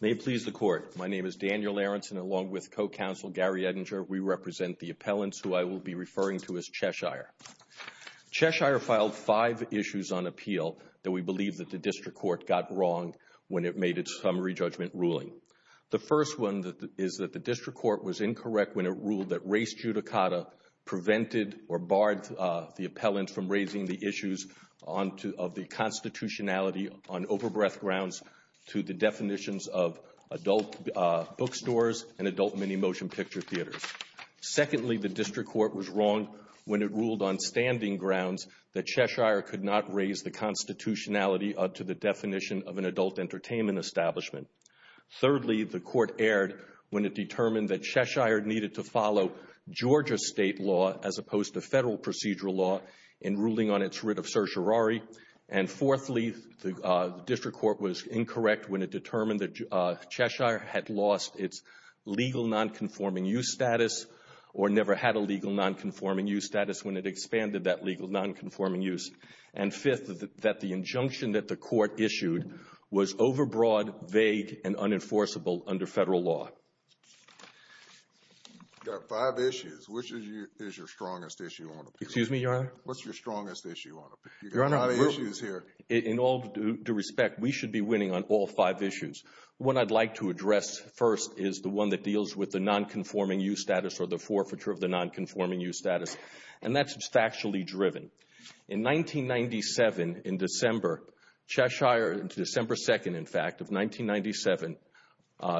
May it please the Court, my name is Daniel Aronson along with co-counsel Gary Edinger. We represent the appellants who I will be referring to as Cheshire. Cheshire filed five issues on appeal that we believe that the District Court got wrong when it made its summary judgment ruling. The first one that is that the District Court was incorrect when it ruled that race judicata prevented or barred the appellants from raising the issues on to of the constitutionality on overbreadth grounds to the definitions of adult bookstores and adult mini motion picture theaters. Secondly, the District Court was wrong when it ruled on standing grounds that Cheshire could not raise the constitutionality to the definition of an adult entertainment establishment. Thirdly, the Court erred when it determined that Cheshire needed to follow Georgia state law as opposed to federal procedural law in ruling on its of certiorari. And fourthly, the District Court was incorrect when it determined that Cheshire had lost its legal non-conforming use status or never had a legal non-conforming use status when it expanded that legal non-conforming use. And fifth, that the injunction that the Court issued was overbroad, vague, and unenforceable under federal law. You've got five issues. Which is your strongest issue on appeal? Excuse me, Your Honor? What's your strongest issue on appeal? You've got a lot of issues here. In all due respect, we should be winning on all five issues. What I'd like to address first is the one that deals with the non-conforming use status or the forfeiture of the non-conforming use status. And that's factually driven. In 1997, in December, Cheshire, December 2nd, in fact, of 1997,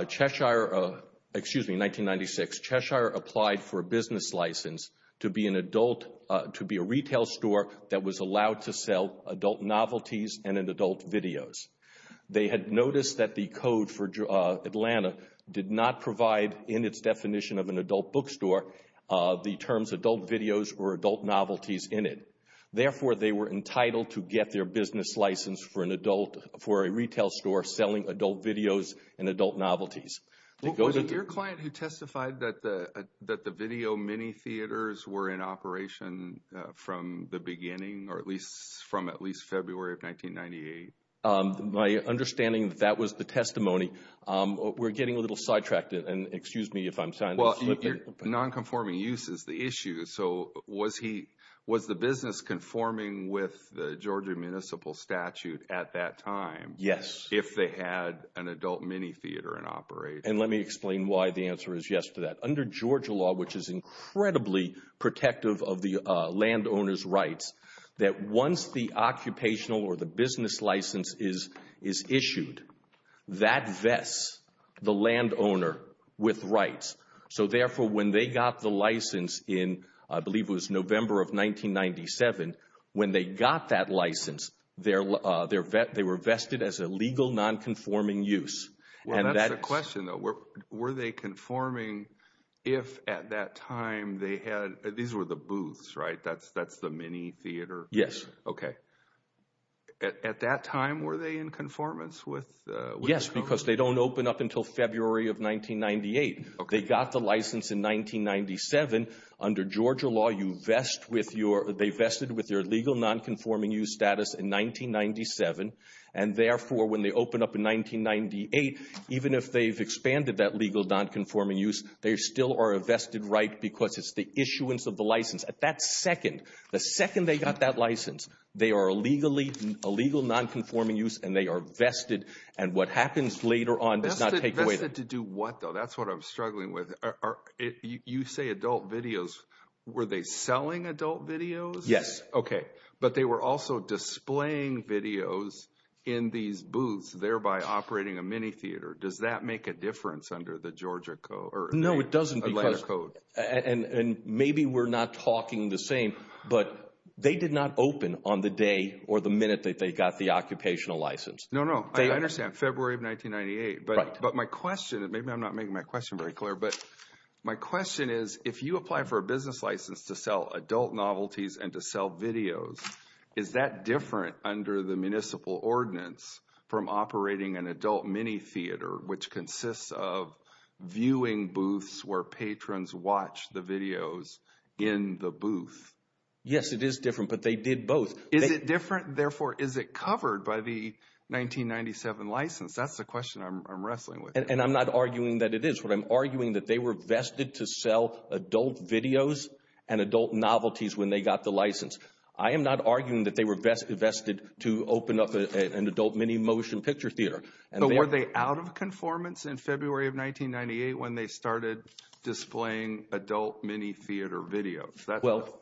Cheshire, excuse me, 1996, Cheshire applied for a business license to be an adult, to be a retail store that was allowed to sell adult novelties and an adult videos. They had noticed that the code for Atlanta did not provide, in its definition of an adult bookstore, the terms adult videos or adult novelties in it. Therefore, they were entitled to get their business license for an adult, for a retail store selling adult videos and adult novelties. Was it your client who testified that the video mini theaters were in operation from the beginning, or at least from at least February of 1998? My understanding, that was the testimony. We're getting a little sidetracked, and excuse me if I'm sounding slippy. Well, your non-conforming use is the issue, so was he, was the business conforming with the Georgia municipal statute at that time? Yes. If they had an adult mini theater in operation? And let me explain why the answer is yes to that. Under Georgia law, which is part of the landowner's rights, that once the occupational or the business license is issued, that vests the landowner with rights. So therefore, when they got the license in, I believe it was November of 1997, when they got that license, they were vested as a legal non-conforming use. Well, that's the question, though. Were they conforming if at that time they were? Those were the booths, right? That's the mini theater? Yes. Okay. At that time, were they in conformance with the law? Yes, because they don't open up until February of 1998. Okay. They got the license in 1997. Under Georgia law, you vest with your, they vested with your legal non-conforming use status in 1997, and therefore, when they open up in 1998, even if they've expanded that legal non-conforming use, they still are a vested right because it's the issuance of the license. At that second, the second they got that license, they are a legal non-conforming use, and they are vested, and what happens later on does not take away. Vested to do what, though? That's what I'm struggling with. You say adult videos. Were they selling adult videos? Yes. Okay. But they were also displaying videos in these booths, thereby operating a mini theater. Does that make a difference under the Georgia code? No, it doesn't because, and maybe we're not talking the same, but they did not open on the day or the minute that they got the occupational license. No, no. I understand, February of 1998. Right. But my question, and maybe I'm not making my question very clear, but my question is, if you apply for a business license to sell adult novelties and to sell videos, is that different under the municipal ordinance from operating an adult mini theater, which consists of viewing booths where patrons watch the videos in the booth? Yes, it is different, but they did both. Is it different? Therefore, is it covered by the 1997 license? That's the question I'm wrestling with. And I'm not arguing that it is. What I'm arguing that they were vested to sell adult videos and adult novelties when they got the license. I am not arguing that they were vested to open up an adult mini motion picture theater. But were they out of conformance in February of 1998 when they started displaying adult mini theater videos? Well,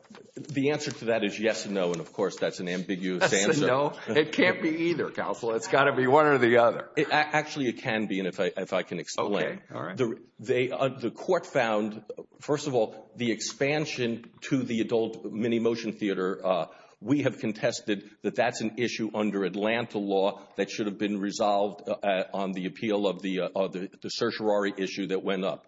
the answer to that is yes and no, and, of course, that's an ambiguous answer. Yes and no? It can't be either, counsel. It's got to be one or the other. Actually, it can be, if I can explain. Okay, all right. The court found, first of all, the expansion to the adult mini motion theater. We have contested that that's an issue under Atlanta law that should have been resolved on the appeal of the certiorari issue that went up.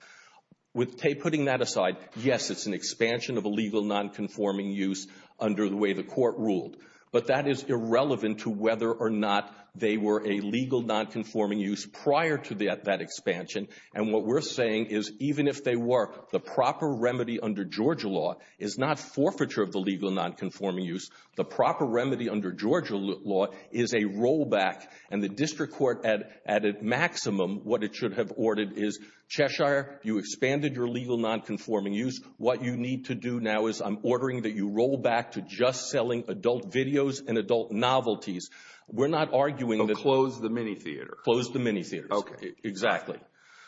Putting that aside, yes, it's an expansion of a legal nonconforming use under the way the court ruled. But that is irrelevant to whether or not they were a legal nonconforming use prior to that expansion. And what we're saying is even if they were, the proper remedy under Georgia law is not forfeiture of the legal nonconforming use. The proper remedy under Georgia law is a rollback. And the district court, at a maximum, what it should have ordered is, Cheshire, you expanded your legal nonconforming use. What you need to do now is I'm ordering that you roll back to just selling adult videos and adult novelties. We're not arguing that. Close the mini theater. Close the mini theater. Okay. Exactly.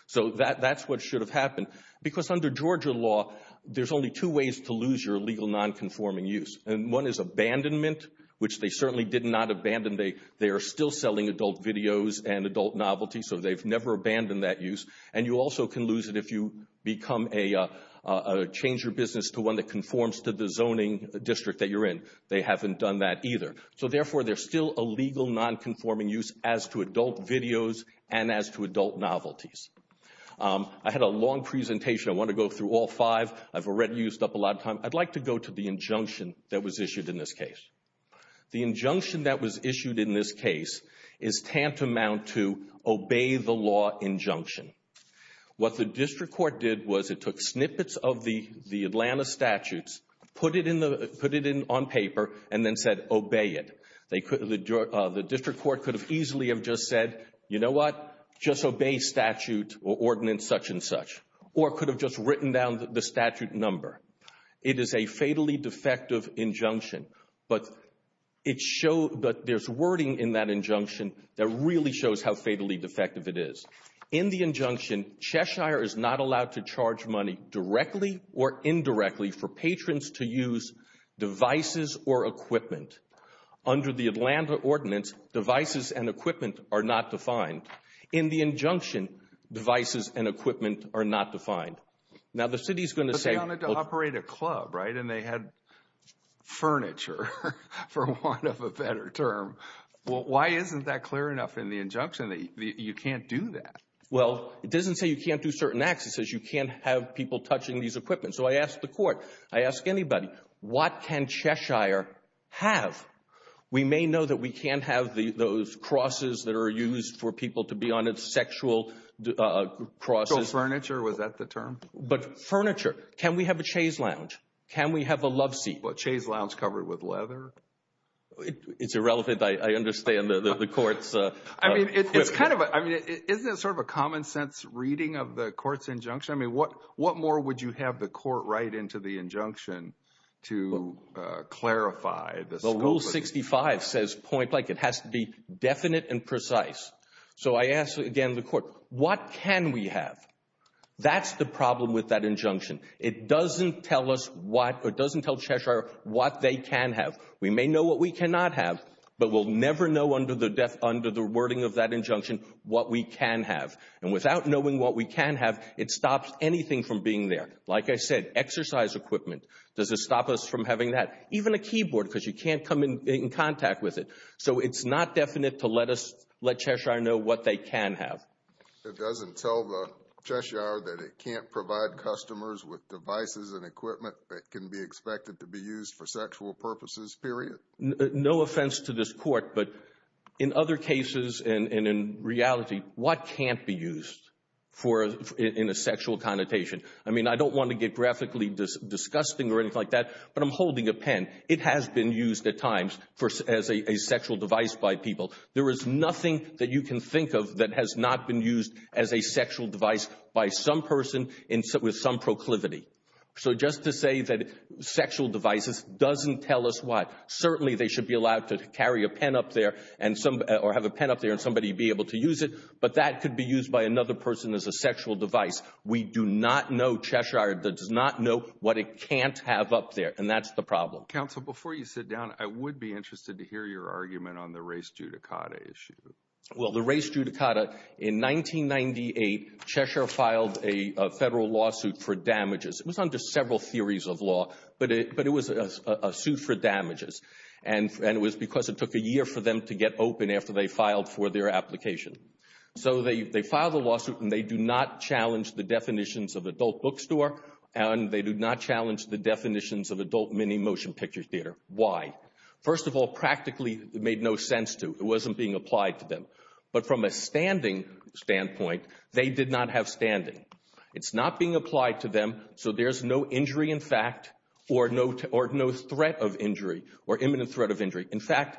So that's what should have happened. Because under Georgia law, there's only two ways to lose your legal nonconforming use. And one is abandonment, which they certainly did not abandon. They are still selling adult videos and adult novelties, so they've never abandoned that use. And you also can lose it if you become a change your business to one that conforms to the zoning district that you're in. They haven't done that either. So, therefore, there's still a legal nonconforming use as to adult videos and as to adult novelties. I had a long presentation. I want to go through all five. I've already used up a lot of time. I'd like to go to the injunction that was issued in this case. The injunction that was issued in this case is tantamount to obey the law injunction. What the district court did was it took snippets of the Atlanta statutes, put it on paper, and then said obey it. The district court could have easily have just said, you know what, just obey statute or ordinance such and such, or could have just written down the statute number. It is a fatally defective injunction, but there's wording in that injunction that really shows how fatally defective it is. In the injunction, Cheshire is not allowed to charge money directly or indirectly for patrons to use devices or equipment. Under the Atlanta ordinance, devices and equipment are not defined. In the injunction, devices and equipment are not defined. Now, the city is going to say. But they wanted to operate a club, right, and they had furniture for want of a better term. Well, why isn't that clear enough in the injunction that you can't do that? Well, it doesn't say you can't do certain acts. It says you can't have people touching these equipment. So I asked the court, I ask anybody, what can Cheshire have? We may know that we can't have those crosses that are used for people to be on its sexual crosses. So furniture, was that the term? But furniture. Can we have a chaise lounge? Can we have a love seat? A chaise lounge covered with leather? It's irrelevant. I understand the court's. I mean, isn't it sort of a common sense reading of the court's injunction? I mean, what more would you have the court write into the injunction to clarify the scope of the injunction? The Rule 65 says, point blank, it has to be definite and precise. So I ask, again, the court, what can we have? That's the problem with that injunction. It doesn't tell us what, or it doesn't tell Cheshire what they can have. We may know what we cannot have, but we'll never know under the wording of that injunction what we can have. And without knowing what we can have, it stops anything from being there. Like I said, exercise equipment. Does it stop us from having that? Even a keyboard because you can't come in contact with it. So it's not definite to let us let Cheshire know what they can have. It doesn't tell the Cheshire that it can't provide customers with devices and equipment that can be expected to be used for sexual purposes, period? No offense to this court, but in other cases and in reality, what can't be used in a sexual connotation? I mean, I don't want to get graphically disgusting or anything like that, but I'm holding a pen. It has been used at times as a sexual device by people. There is nothing that you can think of that has not been used as a sexual device by some person with some proclivity. So just to say that sexual devices doesn't tell us what. Certainly they should be allowed to carry a pen up there or have a pen up there and somebody be able to use it, but that could be used by another person as a sexual device. We do not know, Cheshire does not know what it can't have up there, and that's the problem. Counsel, before you sit down, I would be interested to hear your argument on the race judicata issue. Well, the race judicata, in 1998, Cheshire filed a federal lawsuit for damages. It was under several theories of law, but it was a suit for damages, and it was because it took a year for them to get open after they filed for their application. So they filed a lawsuit, and they do not challenge the definitions of adult bookstore, and they do not challenge the definitions of adult mini motion picture theater. Why? First of all, practically it made no sense to. It wasn't being applied to them. But from a standing standpoint, they did not have standing. It's not being applied to them, so there's no injury in fact, or no threat of injury or imminent threat of injury. In fact,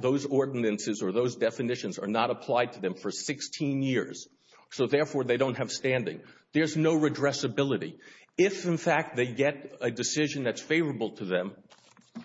those ordinances or those definitions are not applied to them for 16 years, so therefore they don't have standing. There's no redressability. If, in fact, they get a decision that's favorable to them,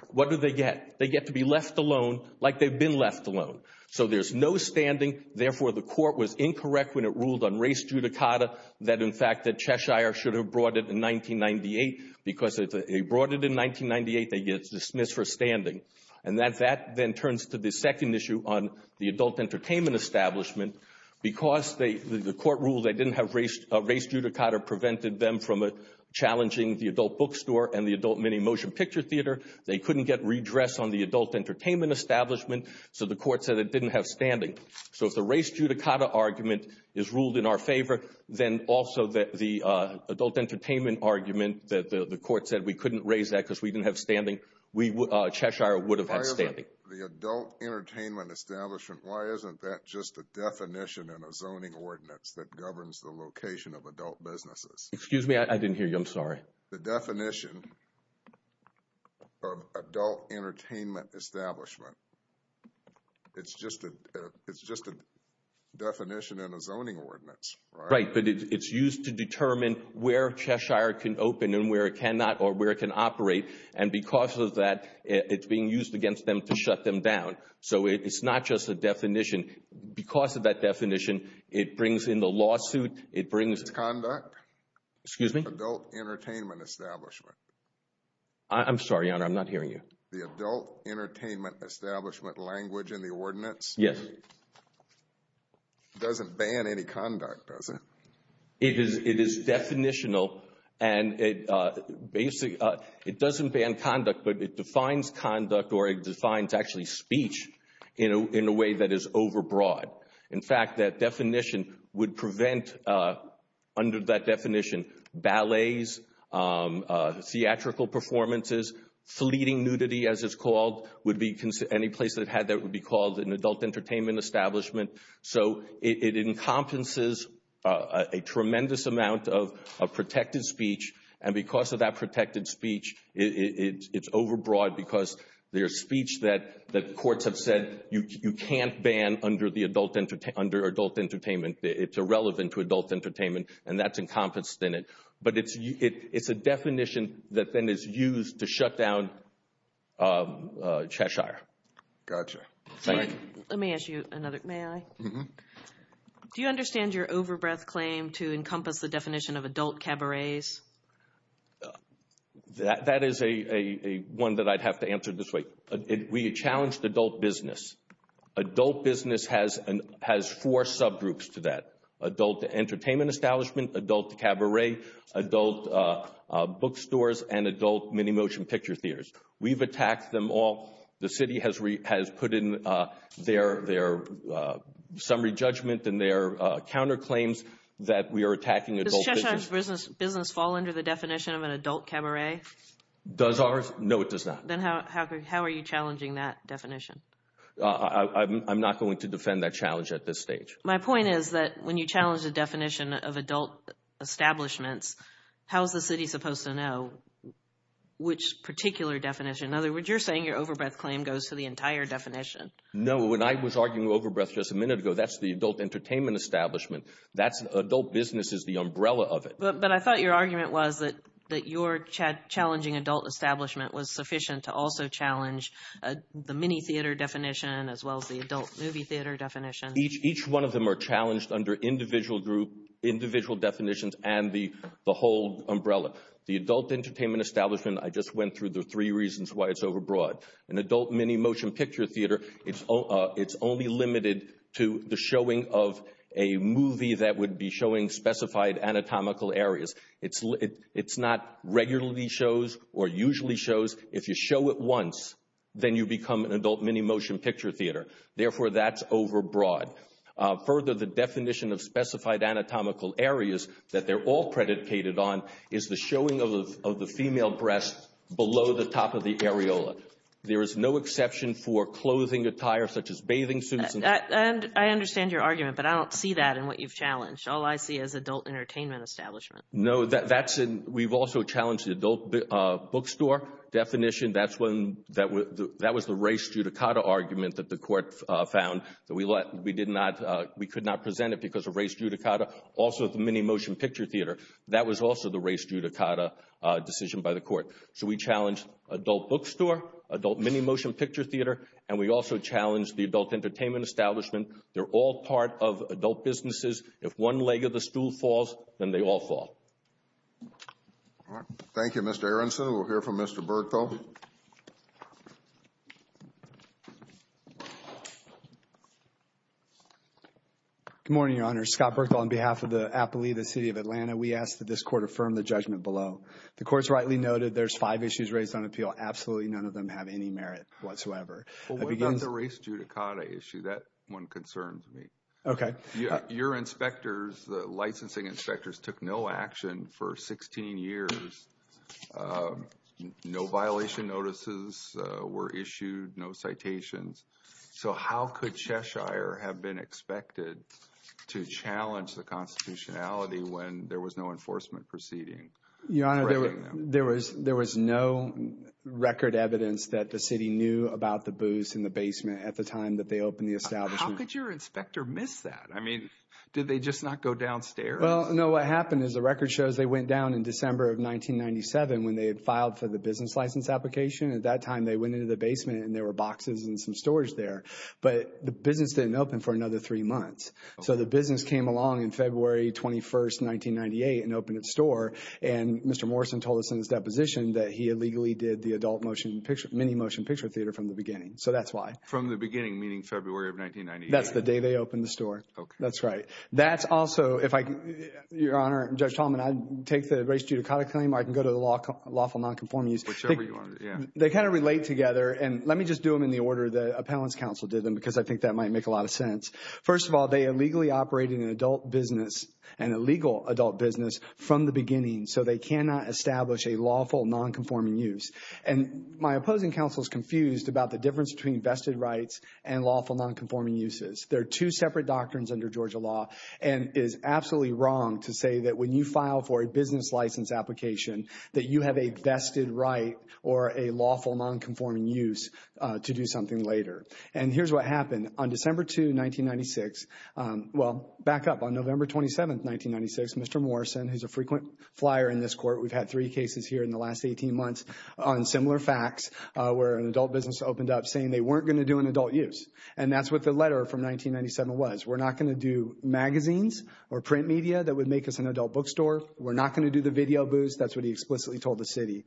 what do they get? They get to be left alone like they've been left alone. So there's no standing, therefore the court was incorrect when it ruled on race judicata that in fact that Cheshire should have brought it in 1998, because if they brought it in 1998, they get dismissed for standing. And that then turns to the second issue on the adult entertainment establishment, because the court ruled they didn't have race judicata prevented them from challenging the adult bookstore and the adult mini motion picture theater. They couldn't get redress on the adult entertainment establishment, so the court said it didn't have standing. So if the race judicata argument is ruled in our favor, then also the adult entertainment argument that the court said we couldn't raise that because we didn't have standing, Cheshire would have had standing. Why isn't the adult entertainment establishment, why isn't that just a definition in a zoning ordinance that governs the location of adult businesses? Excuse me, I didn't hear you. I'm sorry. The definition of adult entertainment establishment, it's just a definition in a zoning ordinance, right? Right, but it's used to determine where Cheshire can open and where it cannot or where it can operate. And because of that, it's being used against them to shut them down. So it's not just a definition. Because of that definition, it brings in the lawsuit, it brings. It's conduct. Excuse me? Adult entertainment establishment. I'm sorry, Your Honor, I'm not hearing you. The adult entertainment establishment language in the ordinance. Yes. It doesn't ban any conduct, does it? It is definitional and it doesn't ban conduct, but it defines conduct or it defines actually speech in a way that is overbroad. In fact, that definition would prevent, under that definition, ballets, theatrical performances, fleeting nudity, as it's called. Any place that had that would be called an adult entertainment establishment. So it encompasses a tremendous amount of protected speech, and because of that protected speech, it's overbroad because there's speech that courts have said you can't ban under adult entertainment, it's irrelevant to adult entertainment, and that's encompassed in it. But it's a definition that then is used to shut down Cheshire. Gotcha. Let me ask you another, may I? Do you understand your overbreath claim to encompass the definition of adult cabarets? That is one that I'd have to answer this way. We challenged adult business. Adult business has four subgroups to that, adult entertainment establishment, adult cabaret, adult bookstores, and adult mini-motion picture theaters. We've attacked them all. The city has put in their summary judgment and their counterclaims that we are attacking adult business. Does Cheshire's business fall under the definition of an adult cabaret? Does ours? No, it does not. Then how are you challenging that definition? I'm not going to defend that challenge at this stage. My point is that when you challenge the definition of adult establishments, how is the city supposed to know which particular definition? In other words, you're saying your overbreath claim goes to the entire definition. No, when I was arguing overbreath just a minute ago, that's the adult entertainment establishment. Adult business is the umbrella of it. But I thought your argument was that your challenging adult establishment was sufficient to also challenge the mini-theater definition as well as the adult movie theater definition. Each one of them are challenged under individual definitions and the whole umbrella. The adult entertainment establishment, I just went through the three reasons why it's overbroad. An adult mini-motion picture theater, it's only limited to the showing of a movie that would be showing specified anatomical areas. It's not regularly shows or usually shows. If you show it once, then you become an adult mini-motion picture theater. Therefore, that's overbroad. Further, the definition of specified anatomical areas that they're all predicated on is the showing of the female breast below the top of the areola. There is no exception for clothing attire such as bathing suits. I understand your argument, but I don't see that in what you've challenged. All I see is adult entertainment establishment. No, we've also challenged the adult bookstore definition. That was the race judicata argument that the court found that we could not present it because of race judicata. Also, the mini-motion picture theater, that was also the race judicata decision by the court. So, we challenged adult bookstore, adult mini-motion picture theater, and we also challenged the adult entertainment establishment. They're all part of adult businesses. If one leg of the stool falls, then they all fall. Thank you, Mr. Aronson. We'll hear from Mr. Berkthal. Good morning, Your Honor. Scott Berkthal on behalf of the Appalooza City of Atlanta. We ask that this court affirm the judgment below. The court's rightly noted there's five issues raised on appeal. Absolutely none of them have any merit whatsoever. Well, what about the race judicata issue? That one concerns me. Okay. Your inspectors, the licensing inspectors, took no action for 16 years. No violation notices were issued, no citations. So, how could Cheshire have been expected to challenge the constitutionality when there was no enforcement proceeding? Your Honor, there was no record evidence that the city knew about the booths in the basement at the time that they opened the establishment. How could your inspector miss that? I mean, did they just not go downstairs? Well, no. What happened is the record shows they went down in December of 1997 when they had filed for the business license application. At that time, they went into the basement, and there were boxes and some storage there. But the business didn't open for another three months. So the business came along in February 21, 1998, and opened its store. And Mr. Morrison told us in his deposition that he illegally did the adult mini motion picture theater from the beginning. So that's why. From the beginning, meaning February of 1998. That's the day they opened the store. Okay. That's right. That's also, if I could, Your Honor, Judge Tallman, I'd take the race judicata claim or I can go to the lawful nonconforming use. Whichever you want, yeah. They kind of relate together. And let me just do them in the order the appellant's counsel did them because I think that might make a lot of sense. First of all, they illegally operated an adult business, an illegal adult business, from the beginning. So they cannot establish a lawful nonconforming use. And my opposing counsel is confused about the difference between vested rights and lawful nonconforming uses. There are two separate doctrines under Georgia law. And it is absolutely wrong to say that when you file for a business license application, that you have a vested right or a lawful nonconforming use to do something later. And here's what happened. On December 2, 1996, well, back up, on November 27, 1996, Mr. Morrison, who's a frequent flyer in this court, we've had three cases here in the last 18 months on similar facts where an adult business opened up saying they weren't going to do an adult use. And that's what the letter from 1997 was. We're not going to do magazines or print media that would make us an adult bookstore. We're not going to do the video booths. That's what he explicitly told the city.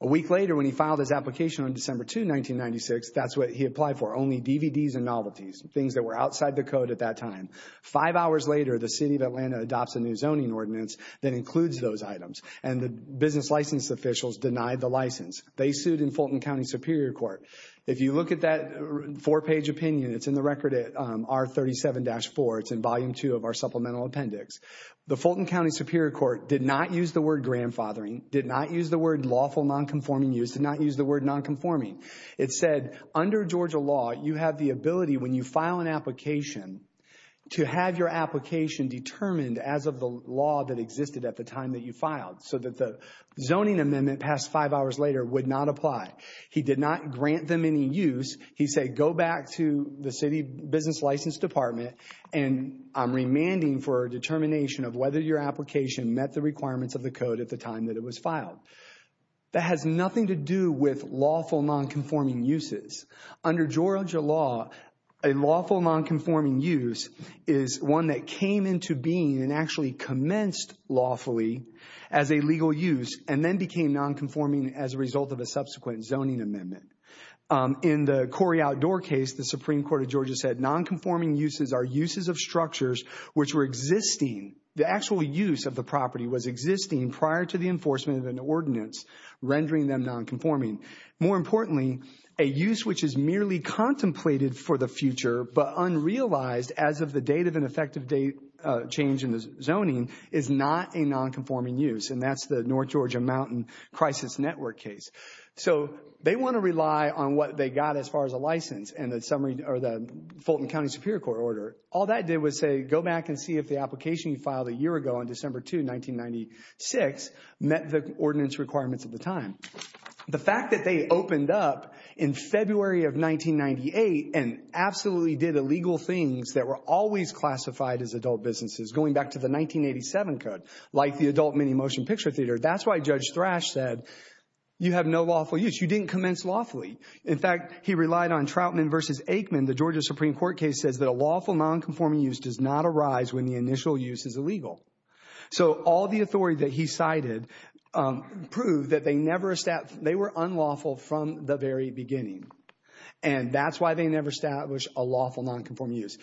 A week later, when he filed his application on December 2, 1996, that's what he applied for, only DVDs and novelties, things that were outside the code at that time. Five hours later, the city of Atlanta adopts a new zoning ordinance that includes those items. And the business license officials denied the license. They sued in Fulton County Superior Court. If you look at that four-page opinion, it's in the record at R37-4. It's in Volume 2 of our supplemental appendix. The Fulton County Superior Court did not use the word grandfathering, did not use the word lawful nonconforming use, did not use the word nonconforming. It said, under Georgia law, you have the ability, when you file an application, to have your application determined as of the law that existed at the time that you filed so that the zoning amendment passed five hours later would not apply. He did not grant them any use. He said, go back to the city business license department, and I'm remanding for a determination of whether your application met the requirements of the code at the time that it was filed. That has nothing to do with lawful nonconforming uses. Under Georgia law, a lawful nonconforming use is one that came into being and actually commenced lawfully as a legal use and then became nonconforming as a result of a subsequent zoning amendment. In the Cory Outdoor case, the Supreme Court of Georgia said, nonconforming uses are uses of structures which were existing. The actual use of the property was existing prior to the enforcement of an ordinance, rendering them nonconforming. More importantly, a use which is merely contemplated for the future but unrealized as of the date of an effective date change in the zoning is not a nonconforming use, and that's the North Georgia Mountain Crisis Network case. So they want to rely on what they got as far as a license and the Fulton County Superior Court order. All that did was say, go back and see if the application you filed a year ago on December 2, 1996, met the ordinance requirements at the time. The fact that they opened up in February of 1998 and absolutely did illegal things that were always classified as adult businesses, going back to the 1987 code, like the adult mini motion picture theater, that's why Judge Thrash said, you have no lawful use. You didn't commence lawfully. In fact, he relied on Troutman v. Aikman. The Georgia Supreme Court case says that a lawful nonconforming use does not arise when the initial use is illegal. So all the authority that he cited proved that they were unlawful from the very beginning, and that's why they never established a lawful nonconforming use.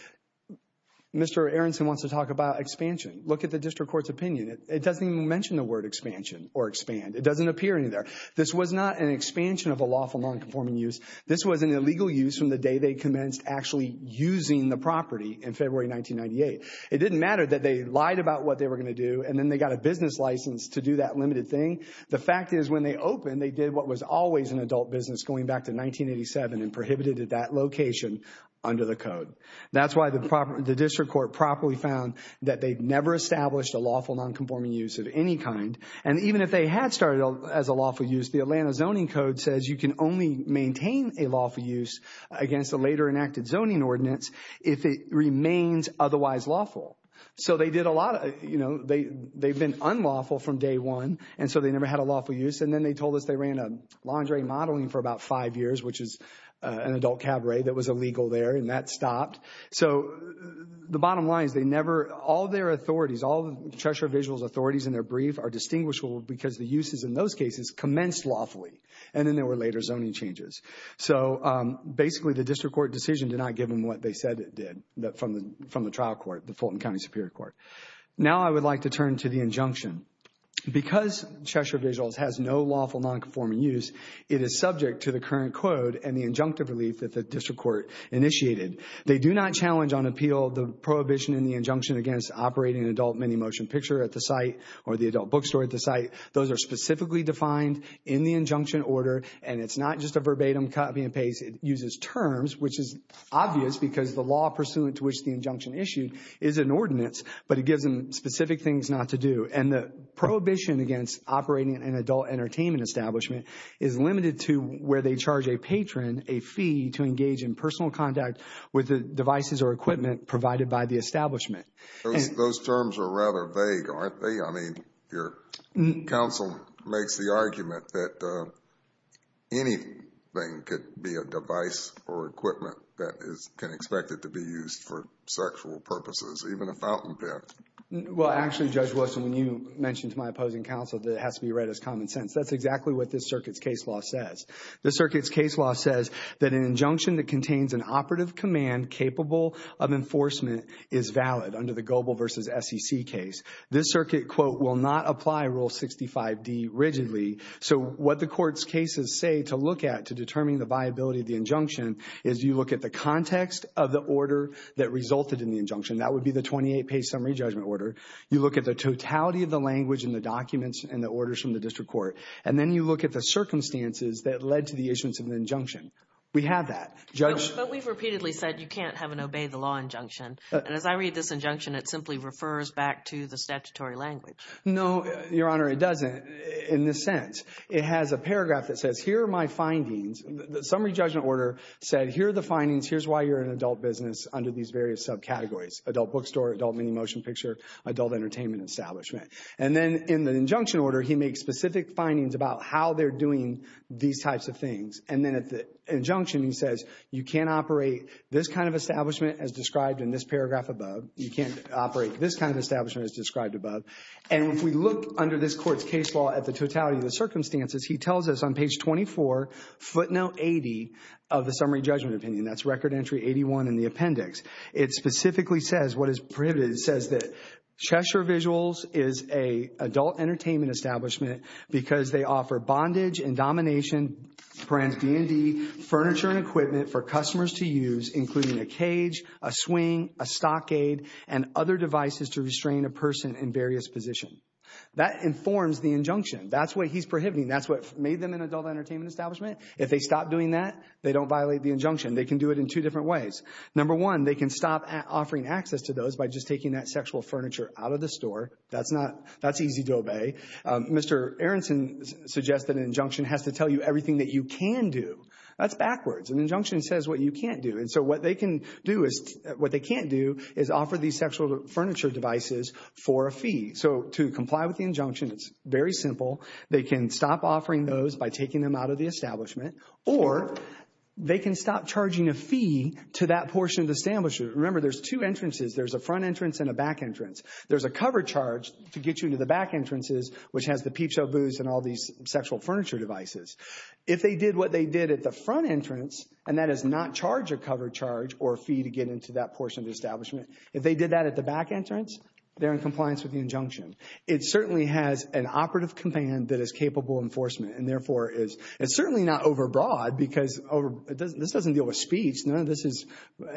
Mr. Aronson wants to talk about expansion. Look at the district court's opinion. It doesn't even mention the word expansion or expand. It doesn't appear in there. This was not an expansion of a lawful nonconforming use. This was an illegal use from the day they commenced actually using the property in February 1998. It didn't matter that they lied about what they were going to do and then they got a business license to do that limited thing. The fact is when they opened, they did what was always an adult business going back to 1987 and prohibited that location under the code. That's why the district court properly found that they'd never established a lawful nonconforming use of any kind. And even if they had started as a lawful use, the Atlanta Zoning Code says you can only maintain a lawful use against a later enacted zoning ordinance if it remains otherwise lawful. So they did a lot of, you know, they've been unlawful from day one and so they never had a lawful use. And then they told us they ran a lingerie modeling for about five years, which is an adult cabaret that was illegal there, and that stopped. So the bottom line is they never, all their authorities, all the Treasurer Vigil's authorities in their brief are distinguishable because the uses in those cases commenced lawfully. And then there were later zoning changes. So basically the district court decision did not give them what they said it did from the trial court, the Fulton County Superior Court. Now I would like to turn to the injunction. Because Treasurer Vigil's has no lawful nonconforming use, it is subject to the current code and the injunctive relief that the district court initiated. They do not challenge on appeal the prohibition in the injunction against operating an adult mini motion picture at the site or the adult bookstore at the site. Those are specifically defined in the injunction order, and it's not just a verbatim copy and paste. It uses terms, which is obvious because the law pursuant to which the injunction issued is an ordinance, but it gives them specific things not to do. And the prohibition against operating an adult entertainment establishment is limited to where they charge a patron a fee to engage in personal contact with the devices or equipment provided by the establishment. Those terms are rather vague, aren't they? I mean, your counsel makes the argument that anything could be a device or equipment that can expect it to be used for sexual purposes, even a fountain pen. Well, actually, Judge Wilson, when you mentioned to my opposing counsel that it has to be read as common sense, that's exactly what this circuit's case law says. This circuit's case law says that an injunction that contains an operative command capable of enforcement is valid under the global versus SEC case. This circuit, quote, will not apply Rule 65D rigidly. So what the court's cases say to look at to determine the viability of the injunction is you look at the context of the order that resulted in the injunction. That would be the 28-page summary judgment order. You look at the totality of the language in the documents and the orders from the district court, and then you look at the circumstances that led to the issuance of the injunction. We have that. But we've repeatedly said you can't have an obey-the-law injunction, and as I read this injunction, it simply refers back to the statutory language. No, Your Honor, it doesn't in this sense. It has a paragraph that says here are my findings. The summary judgment order said here are the findings, here's why you're an adult business under these various subcategories, adult bookstore, adult mini motion picture, adult entertainment establishment. And then in the injunction order, he makes specific findings about how they're doing these types of things. You can't operate this kind of establishment as described above. And if we look under this court's case law at the totality of the circumstances, he tells us on page 24, footnote 80 of the summary judgment opinion. That's record entry 81 in the appendix. It specifically says what is prohibited. It says that Cheshire Visuals is an adult entertainment establishment because they offer bondage and domination, furniture and equipment for customers to use, including a cage, a swing, a stockade, and other devices to restrain a person in various positions. That informs the injunction. That's what he's prohibiting. That's what made them an adult entertainment establishment. If they stop doing that, they don't violate the injunction. They can do it in two different ways. Number one, they can stop offering access to those by just taking that sexual furniture out of the store. That's easy to obey. Mr. Aronson suggests that an injunction has to tell you everything that you can do. That's backwards. An injunction says what you can't do. And so what they can't do is offer these sexual furniture devices for a fee. So to comply with the injunction, it's very simple. They can stop offering those by taking them out of the establishment, or they can stop charging a fee to that portion of the establishment. Remember, there's two entrances. There's a front entrance and a back entrance. There's a cover charge to get you to the back entrances, which has the peep show booths and all these sexual furniture devices. If they did what they did at the front entrance, and that is not charge a cover charge or a fee to get into that portion of the establishment, if they did that at the back entrance, they're in compliance with the injunction. It certainly has an operative command that is capable of enforcement and therefore is certainly not overbroad because this doesn't deal with speech. None of this is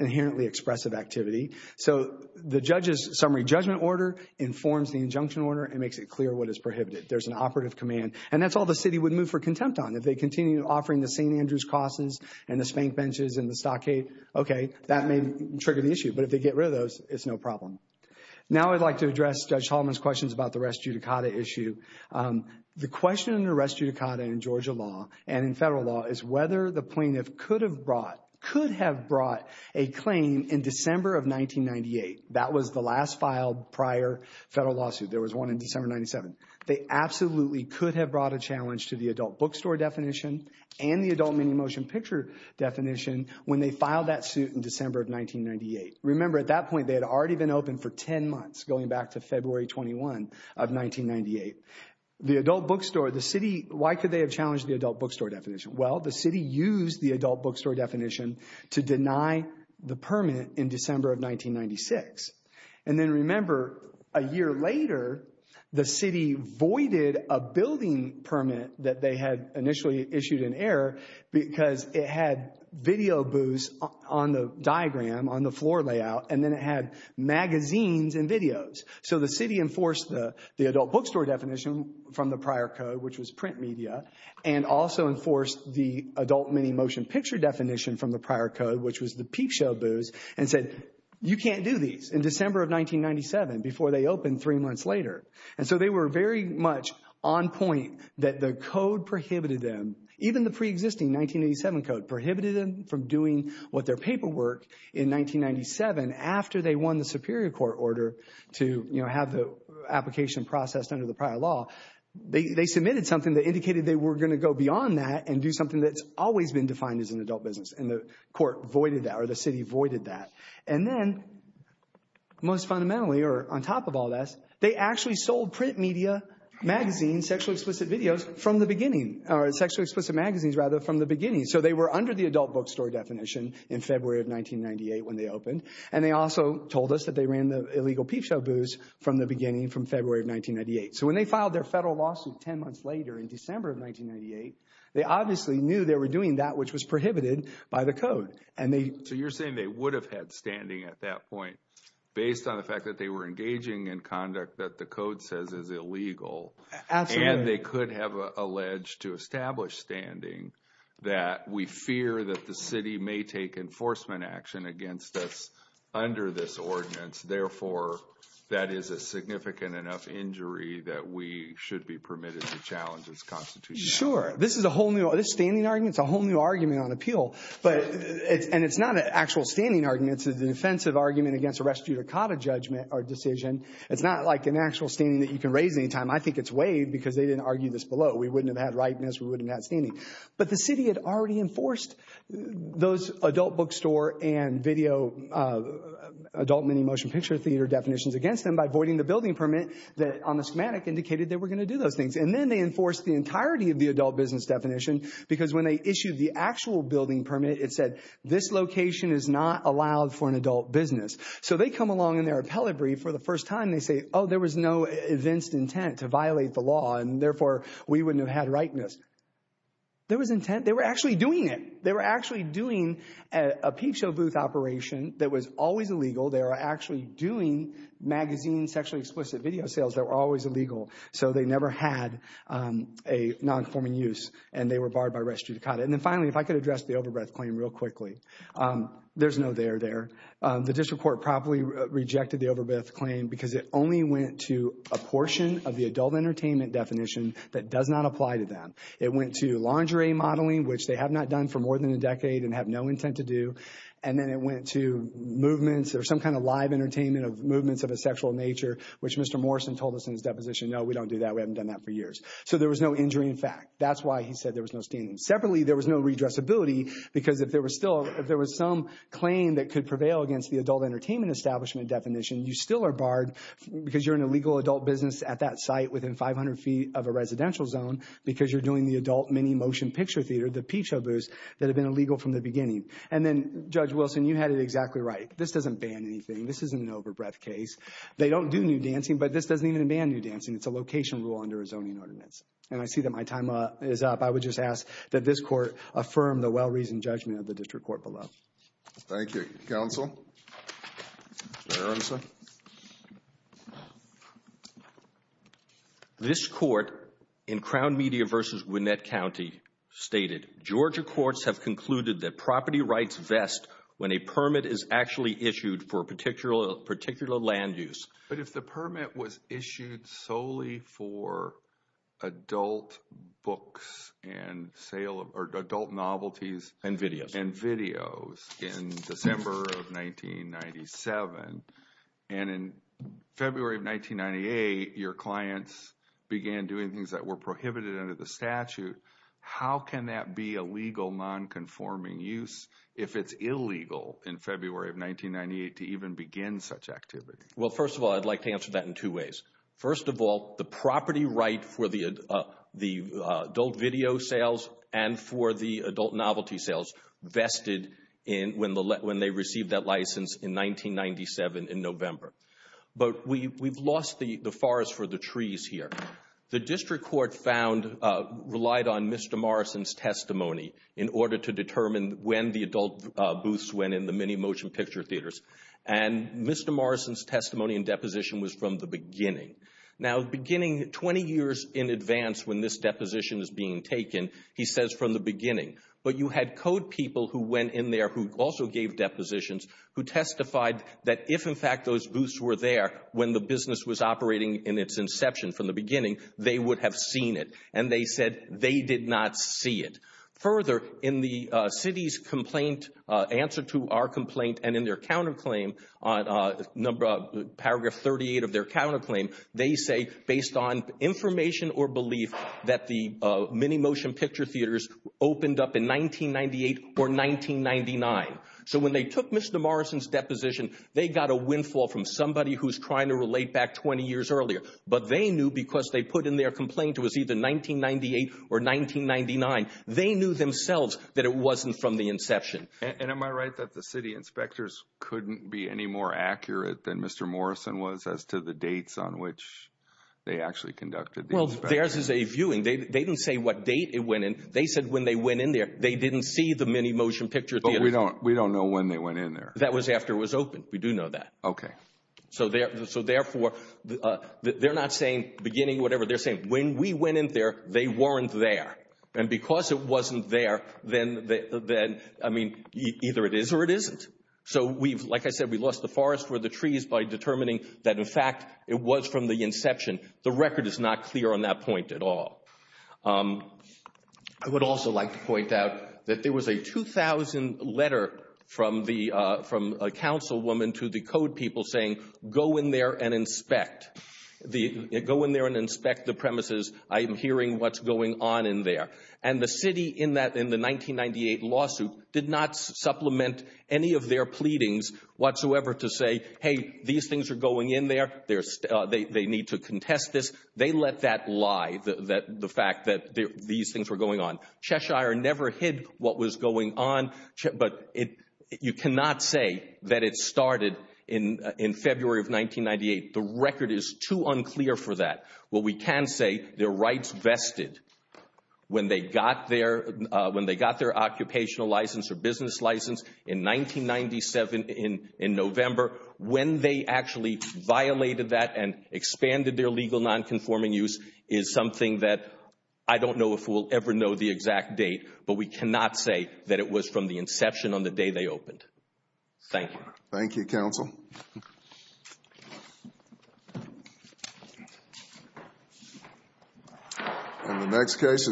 inherently expressive activity. So the judge's summary judgment order informs the injunction order and makes it clear what is prohibited. There's an operative command. And that's all the city would move for contempt on. If they continue offering the St. Andrew's crosses and the spank benches and the stockade, okay, that may trigger the issue. But if they get rid of those, it's no problem. Now I'd like to address Judge Holliman's questions about the res judicata issue. The question in the res judicata in Georgia law and in federal law is whether the plaintiff could have brought a claim in December of 1998. That was the last filed prior federal lawsuit. There was one in December of 1997. They absolutely could have brought a challenge to the adult bookstore definition and the adult mini motion picture definition when they filed that suit in December of 1998. Remember, at that point they had already been open for ten months going back to February 21 of 1998. The adult bookstore, the city, why could they have challenged the adult bookstore definition? Well, the city used the adult bookstore definition to deny the permit in December of 1996. And then remember, a year later, the city voided a building permit that they had initially issued in error because it had video booths on the diagram, on the floor layout, and then it had magazines and videos. So the city enforced the adult bookstore definition from the prior code, which was print media, and also enforced the adult mini motion picture definition from the prior code, which was the peep show booths, and said you can't do these in December of 1997 before they opened three months later. And so they were very much on point that the code prohibited them. Even the preexisting 1987 code prohibited them from doing what their paperwork in 1997 after they won the superior court order to have the application processed under the prior law. They submitted something that indicated they were going to go beyond that and do something that's always been defined as an adult business, and the court voided that, or the city voided that. And then, most fundamentally, or on top of all this, they actually sold print media, magazines, sexually explicit videos from the beginning, or sexually explicit magazines, rather, from the beginning. So they were under the adult bookstore definition in February of 1998 when they opened, and they also told us that they ran the illegal peep show booths from the beginning, from February of 1998. So when they filed their federal lawsuit ten months later, in December of 1998, they obviously knew they were doing that which was prohibited by the code. So you're saying they would have had standing at that point, based on the fact that they were engaging in conduct that the code says is illegal, and they could have alleged to establish standing, that we fear that the city may take enforcement action against us under this ordinance, therefore, that is a significant enough injury that we should be permitted to challenge its constitutionality. Sure. This is a whole new, this standing argument is a whole new argument on appeal. And it's not an actual standing argument. It's a defensive argument against a restitutacata judgment or decision. It's not like an actual standing that you can raise any time. I think it's waived because they didn't argue this below. We wouldn't have had rightness. We wouldn't have had standing. But the city had already enforced those adult bookstore and video, adult mini motion picture theater definitions against them by voiding the building permit that on the schematic indicated they were going to do those things. And then they enforced the entirety of the adult business definition because when they issued the actual building permit, it said, this location is not allowed for an adult business. So they come along in their appellate brief for the first time. They say, oh, there was no evinced intent to violate the law, and therefore we wouldn't have had rightness. There was intent. They were actually doing it. They were actually doing a peep show booth operation that was always illegal. They were actually doing magazine sexually explicit video sales that were always illegal. So they never had a nonconforming use, and they were barred by restitutacata. And then finally, if I could address the overbreath claim real quickly. There's no there there. The district court probably rejected the overbreath claim because it only went to a portion of the adult entertainment definition that does not apply to them. It went to lingerie modeling, which they have not done for more than a decade and have no intent to do, and then it went to movements or some kind of live entertainment of movements of a sexual nature, which Mr. Morrison told us in his deposition, no, we don't do that. We haven't done that for years. So there was no injury in fact. That's why he said there was no standing. Separately, there was no redressability because if there was some claim that could prevail against the adult entertainment establishment definition, you still are barred because you're an illegal adult business at that site within 500 feet of a residential zone because you're doing the adult mini motion picture theater, the peep show booths that have been illegal from the beginning. And then, Judge Wilson, you had it exactly right. This doesn't ban anything. This isn't an overbreath case. They don't do new dancing, but this doesn't even ban new dancing. It's a location rule under a zoning ordinance. And I see that my time is up. I would just ask that this court affirm the well-reasoned judgment of the district court below. Thank you. Counsel? This court in Crown Media v. Winnette County stated, Georgia courts have concluded that property rights vest when a permit is actually issued for a particular land use. But if the permit was issued solely for adult books and adult novelties. And videos. And videos in December of 1997. And in February of 1998, your clients began doing things that were prohibited under the statute. How can that be a legal nonconforming use if it's illegal in February of 1998 to even begin such activity? Well, first of all, I'd like to answer that in two ways. First of all, the property right for the adult video sales and for the adult novelty sales vested when they received that license in 1997 in November. But we've lost the forest for the trees here. The district court relied on Mr. Morrison's testimony in order to determine when the adult booths went in the mini motion picture theaters. And Mr. Morrison's testimony and deposition was from the beginning. Now, beginning 20 years in advance when this deposition is being taken, he says from the beginning. But you had code people who went in there who also gave depositions who testified that if, in fact, those booths were there when the business was operating in its inception from the beginning, they would have seen it. And they said they did not see it. Further, in the city's complaint, answer to our complaint, and in their counterclaim, paragraph 38 of their counterclaim, they say based on information or belief that the mini motion picture theaters opened up in 1998 or 1999. So when they took Mr. Morrison's deposition, they got a windfall from somebody who's trying to relate back 20 years earlier. But they knew because they put in their complaint it was either 1998 or 1999. They knew themselves that it wasn't from the inception. And am I right that the city inspectors couldn't be any more accurate than Mr. Morrison was as to the dates on which they actually conducted the inspection? Well, theirs is a viewing. They didn't say what date it went in. They said when they went in there, they didn't see the mini motion picture theater. But we don't know when they went in there. That was after it was open. We do know that. Okay. So therefore, they're not saying beginning whatever. They're saying when we went in there, they weren't there. And because it wasn't there, then, I mean, either it is or it isn't. So we've, like I said, we lost the forest for the trees by determining that, in fact, it was from the inception. The record is not clear on that point at all. I would also like to point out that there was a 2,000 letter from a councilwoman to the code people saying go in there and inspect. Go in there and inspect the premises. I am hearing what's going on in there. And the city in the 1998 lawsuit did not supplement any of their pleadings whatsoever to say, hey, these things are going in there. They need to contest this. They let that lie, the fact that these things were going on. Cheshire never hid what was going on. But you cannot say that it started in February of 1998. The record is too unclear for that. What we can say, their rights vested when they got their occupational license or business license in 1997 in November, when they actually violated that and expanded their legal nonconforming use is something that I don't know if we'll ever know the exact date. But we cannot say that it was from the inception on the day they opened. Thank you. Thank you, counsel. And the next case is.